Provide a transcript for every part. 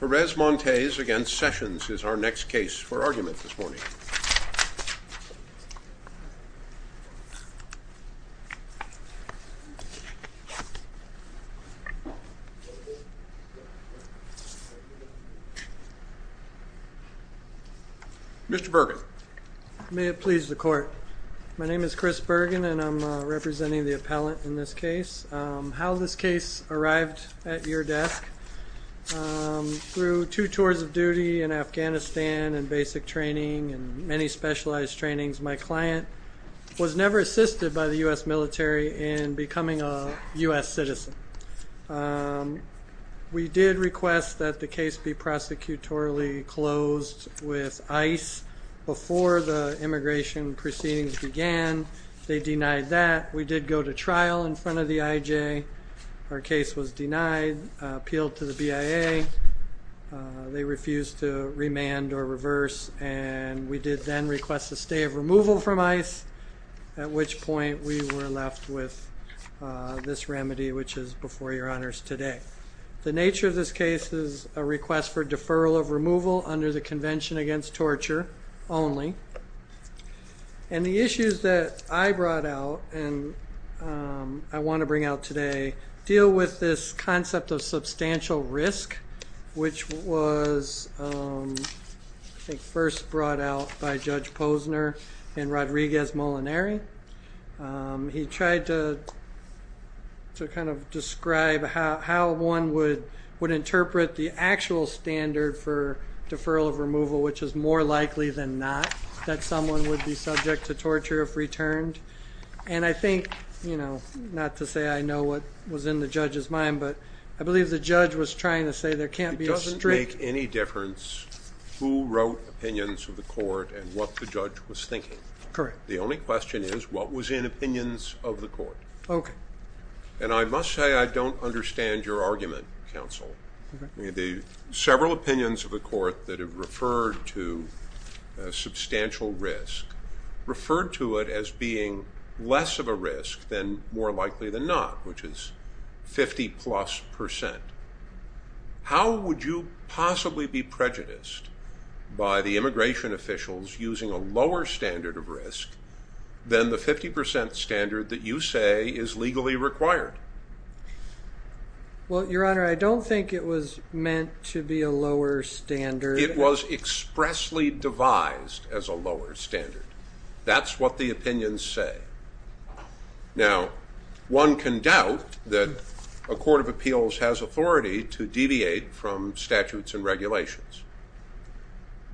Perez-Montes v. Sessions is our next case for argument this morning. Mr. Bergen. May it please the Court. My name is Chris Bergen and I'm representing the appellant in this case. How this case arrived at your desk? Through two tours of duty in Afghanistan and basic training and many specialized trainings, my client was never assisted by the U.S. military in becoming a U.S. citizen. We did request that the case be prosecutorially closed with ICE before the immigration proceedings began. They denied that. We did go to trial in front of the I.J. Our case was denied, appealed to the BIA. They refused to remand or reverse, and we did then request a stay of removal from ICE, at which point we were left with this remedy, which is before your honors today. The nature of this case is a request for deferral of removal under the Convention Against Torture only. And the issues that I brought out and I want to bring out today deal with this concept of substantial risk, which was first brought out by Judge Posner and Rodriguez Molinari. He tried to kind of describe how one would interpret the actual standard for deferral of removal, which is more likely than not that someone would be subject to torture if returned. And I think, you know, not to say I know what was in the judge's mind, but I believe the judge was trying to say there can't be a strict- It doesn't make any difference who wrote opinions of the court and what the judge was thinking. Correct. The only question is what was in opinions of the court. Okay. And I must say I don't understand your argument, counsel. The several opinions of the court that have referred to substantial risk referred to it as being less of a risk than more likely than not, which is 50-plus percent. How would you possibly be prejudiced by the immigration officials using a lower standard of risk than the 50 percent standard that you say is legally required? Well, Your Honor, I don't think it was meant to be a lower standard. It was expressly devised as a lower standard. That's what the opinions say. Now, one can doubt that a court of appeals has authority to deviate from statutes and regulations,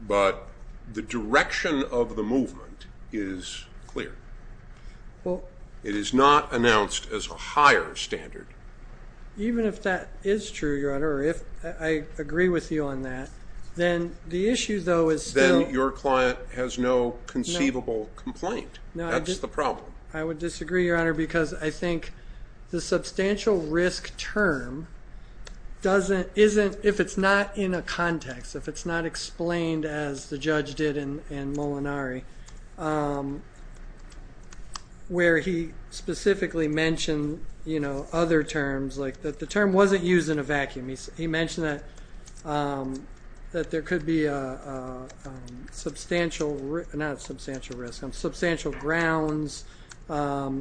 but the direction of the movement is clear. It is not announced as a higher standard. Even if that is true, Your Honor, or if I agree with you on that, then the issue, though, is still- Then your client has no conceivable complaint. That's the problem. I would disagree, Your Honor, because I think the substantial risk term doesn't- if it's not in a context, if it's not explained as the judge did in Molinari, where he specifically mentioned other terms, like the term wasn't used in a vacuum. He mentioned that there could be substantial-not substantial risk-substantial grounds. To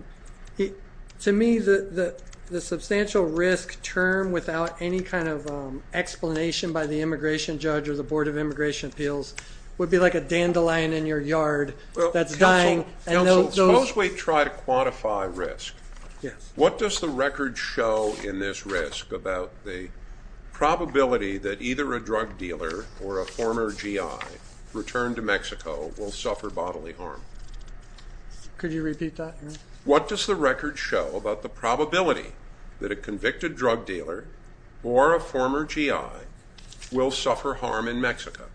me, the substantial risk term without any kind of explanation by the immigration judge or the Board of Immigration Appeals would be like a dandelion in your yard that's dying. Counsel, suppose we try to quantify risk. What does the record show in this risk about the probability that either a drug dealer or a former GI returned to Mexico will suffer bodily harm? Could you repeat that? What does the record show about the probability that a convicted drug dealer or a former GI will suffer harm in Mexico?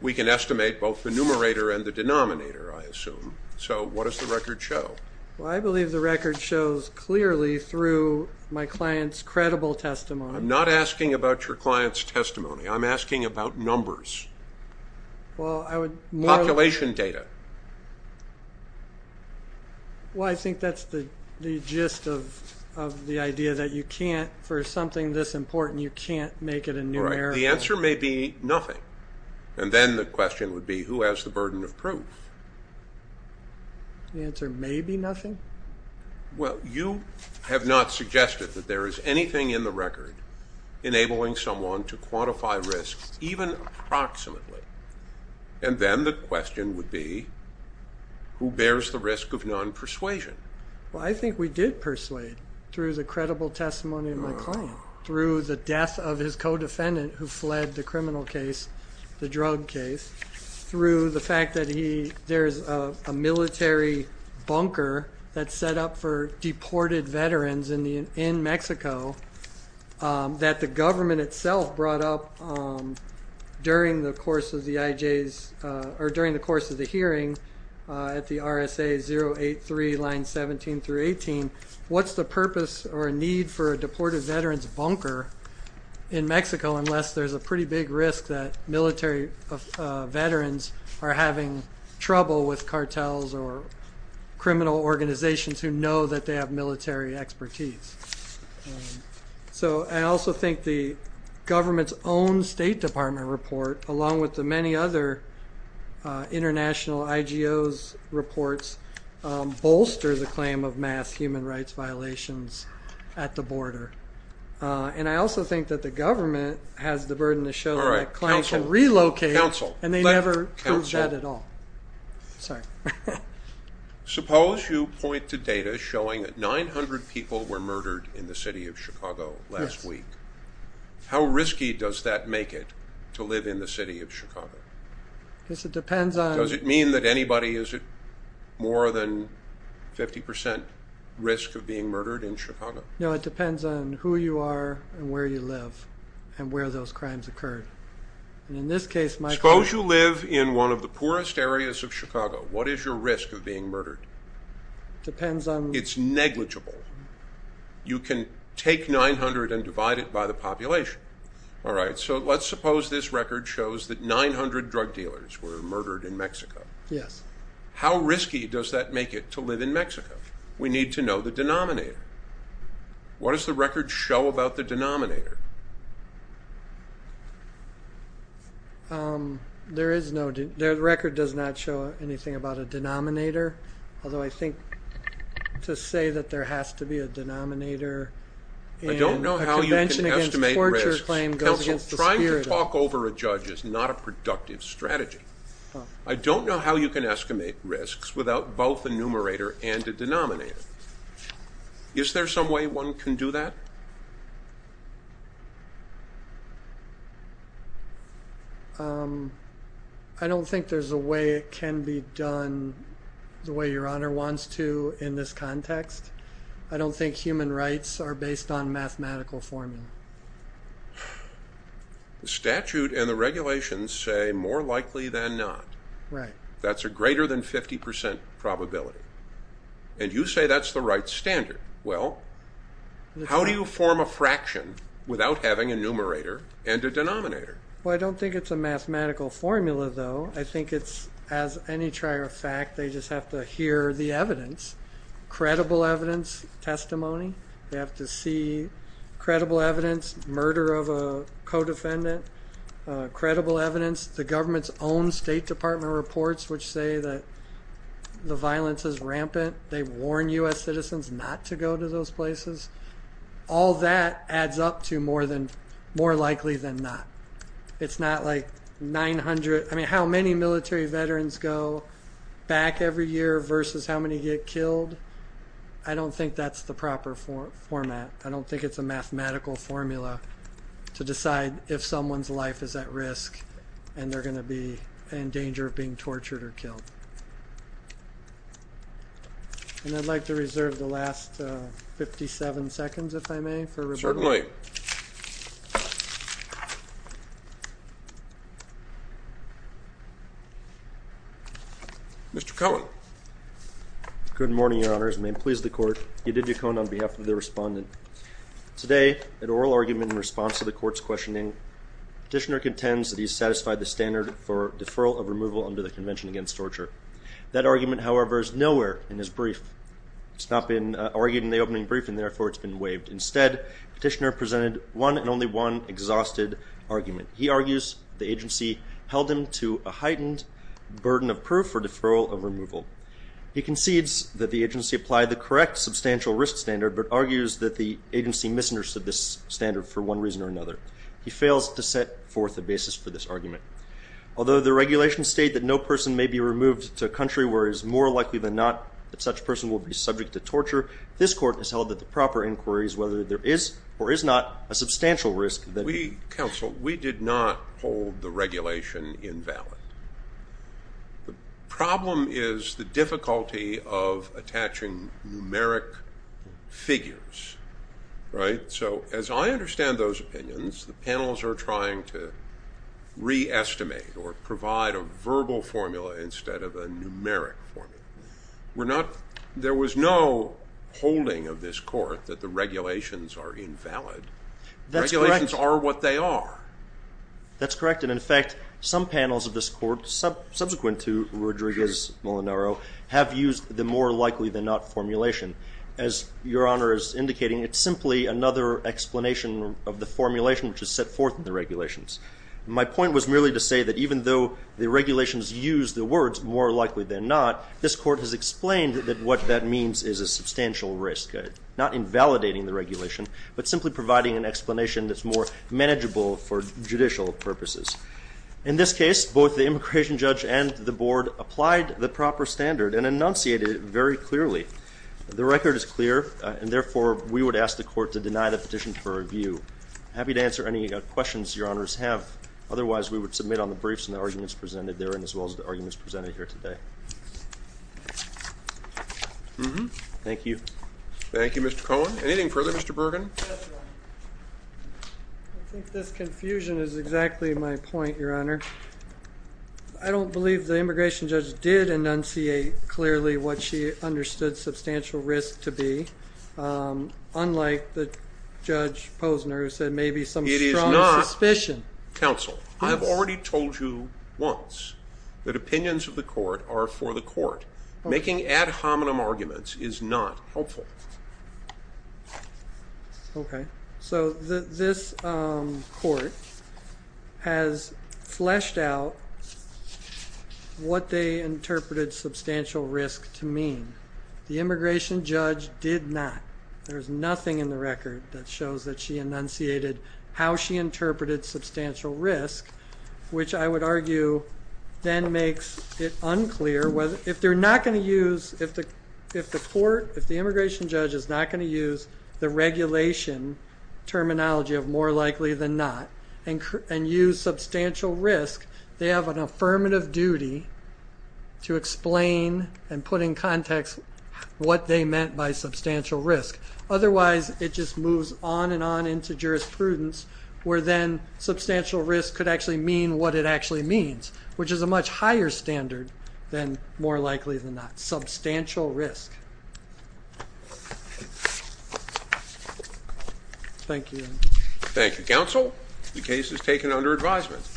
We can estimate both the numerator and the denominator, I assume. So what does the record show? I believe the record shows clearly through my client's credible testimony. I'm not asking about your client's testimony. I'm asking about numbers. Population data. Well, I think that's the gist of the idea that you can't, for something this important, you can't make it a numerical. The answer may be nothing. And then the question would be, who has the burden of proof? The answer may be nothing? Well, you have not suggested that there is anything in the record enabling someone to quantify risk, even approximately. And then the question would be, who bears the risk of non-persuasion? Well, I think we did persuade through the credible testimony of my client, through the death of his co-defendant who fled the criminal case, the drug case, through the fact that there's a military bunker that's set up for deported veterans in Mexico that the government itself brought up during the course of the hearing at the RSA 083 line 17 through 18. What's the purpose or need for a deported veteran's bunker in Mexico unless there's a pretty big risk that military veterans are having trouble with cartels or criminal organizations who know that they have military expertise? So I also think the government's own State Department report, along with the many other international IGOs' reports, bolster the claim of mass human rights violations at the border. And I also think that the government has the burden to show that a claim can relocate, and they never proved that at all. Suppose you point to data showing that 900 people were murdered in the city of Chicago last week. How risky does that make it to live in the city of Chicago? Does it mean that anybody is at more than 50 percent risk of being murdered in Chicago? No, it depends on who you are and where you live and where those crimes occurred. Suppose you live in one of the poorest areas of Chicago. What is your risk of being murdered? It's negligible. You can take 900 and divide it by the population. So let's suppose this record shows that 900 drug dealers were murdered in Mexico. How risky does that make it to live in Mexico? We need to know the denominator. What does the record show about the denominator? The record does not show anything about a denominator, although I think to say that there has to be a denominator in a convention against torture claims goes against the spirit of it. Counsel, trying to talk over a judge is not a productive strategy. I don't know how you can estimate risks without both a numerator and a denominator. Is there some way one can do that? I don't think there's a way it can be done the way Your Honor wants to in this context. I don't think human rights are based on mathematical formula. The statute and the regulations say more likely than not. That's a greater than 50% probability. And you say that's the right standard. Well, how do you form a fraction without having a numerator and a denominator? Well, I don't think it's a mathematical formula, though. I think it's, as any trier of fact, they just have to hear the evidence, credible evidence, testimony. They have to see credible evidence, murder of a co-defendant, credible evidence, the government's own State Department reports, which say that the violence is rampant. They warn U.S. citizens not to go to those places. All that adds up to more than more likely than not. It's not like 900. I mean, how many military veterans go back every year versus how many get killed? I don't think that's the proper format. I don't think it's a mathematical formula to decide if someone's life is at risk and they're going to be in danger of being tortured or killed. And I'd like to reserve the last 57 seconds, if I may, for rebuttal. Certainly. Mr. Cohen. Good morning, Your Honors, and may it please the Court. Yadidu Cohen on behalf of the Respondent. Today, an oral argument in response to the Court's questioning, Petitioner contends that he satisfied the standard for deferral of removal under the Convention Against Torture. That argument, however, is nowhere in his brief. It's not been argued in the opening brief, and therefore it's been waived. Instead, Petitioner presented one and only one exhausted argument. He argues the agency held him to a heightened burden of proof for deferral of removal. He concedes that the agency applied the correct substantial risk standard, but argues that the agency misunderstood this standard for one reason or another. He fails to set forth a basis for this argument. Although the regulations state that no person may be removed to a country where it is more likely than not that such a person will be subject to torture, this Court has held that the proper inquiry is whether there is or is not a substantial risk. We, Counsel, we did not hold the regulation invalid. The problem is the difficulty of attaching numeric figures, right? So as I understand those opinions, the panels are trying to re-estimate or provide a verbal formula instead of a numeric formula. We're not – there was no holding of this Court that the regulations are invalid. That's correct. The regulations are what they are. That's correct, and in fact, some panels of this Court, subsequent to Rodriguez-Molinaro, have used the more likely than not formulation. As Your Honor is indicating, it's simply another explanation of the formulation which is set forth in the regulations. My point was merely to say that even though the regulations use the words more likely than not, this Court has explained that what that means is a substantial risk, not invalidating the regulation, but simply providing an explanation that's more manageable for judicial purposes. In this case, both the immigration judge and the Board applied the proper standard and enunciated it very clearly. The record is clear, and therefore, we would ask the Court to deny the petition for review. I'm happy to answer any questions Your Honors have. Otherwise, we would submit on the briefs and the arguments presented therein as well as the arguments presented here today. Thank you. Thank you, Mr. Cohen. Anything further, Mr. Bergen? I think this confusion is exactly my point, Your Honor. I don't believe the immigration judge did enunciate clearly what she understood substantial risk to be, unlike Judge Posner who said maybe some strong suspicion. It is not, counsel. I have already told you once that opinions of the Court are for the Court. Making ad hominem arguments is not helpful. Okay. So this Court has fleshed out what they interpreted substantial risk to mean. The immigration judge did not. There is nothing in the record that shows that she enunciated how she interpreted substantial risk, which I would argue then makes it unclear. If the immigration judge is not going to use the regulation terminology of more likely than not and use substantial risk, they have an affirmative duty to explain and put in context what they meant by substantial risk. Otherwise, it just moves on and on into jurisprudence, where then substantial risk could actually mean what it actually means, which is a much higher standard than more likely than not, substantial risk. Thank you. Thank you, counsel. The case is taken under advisement.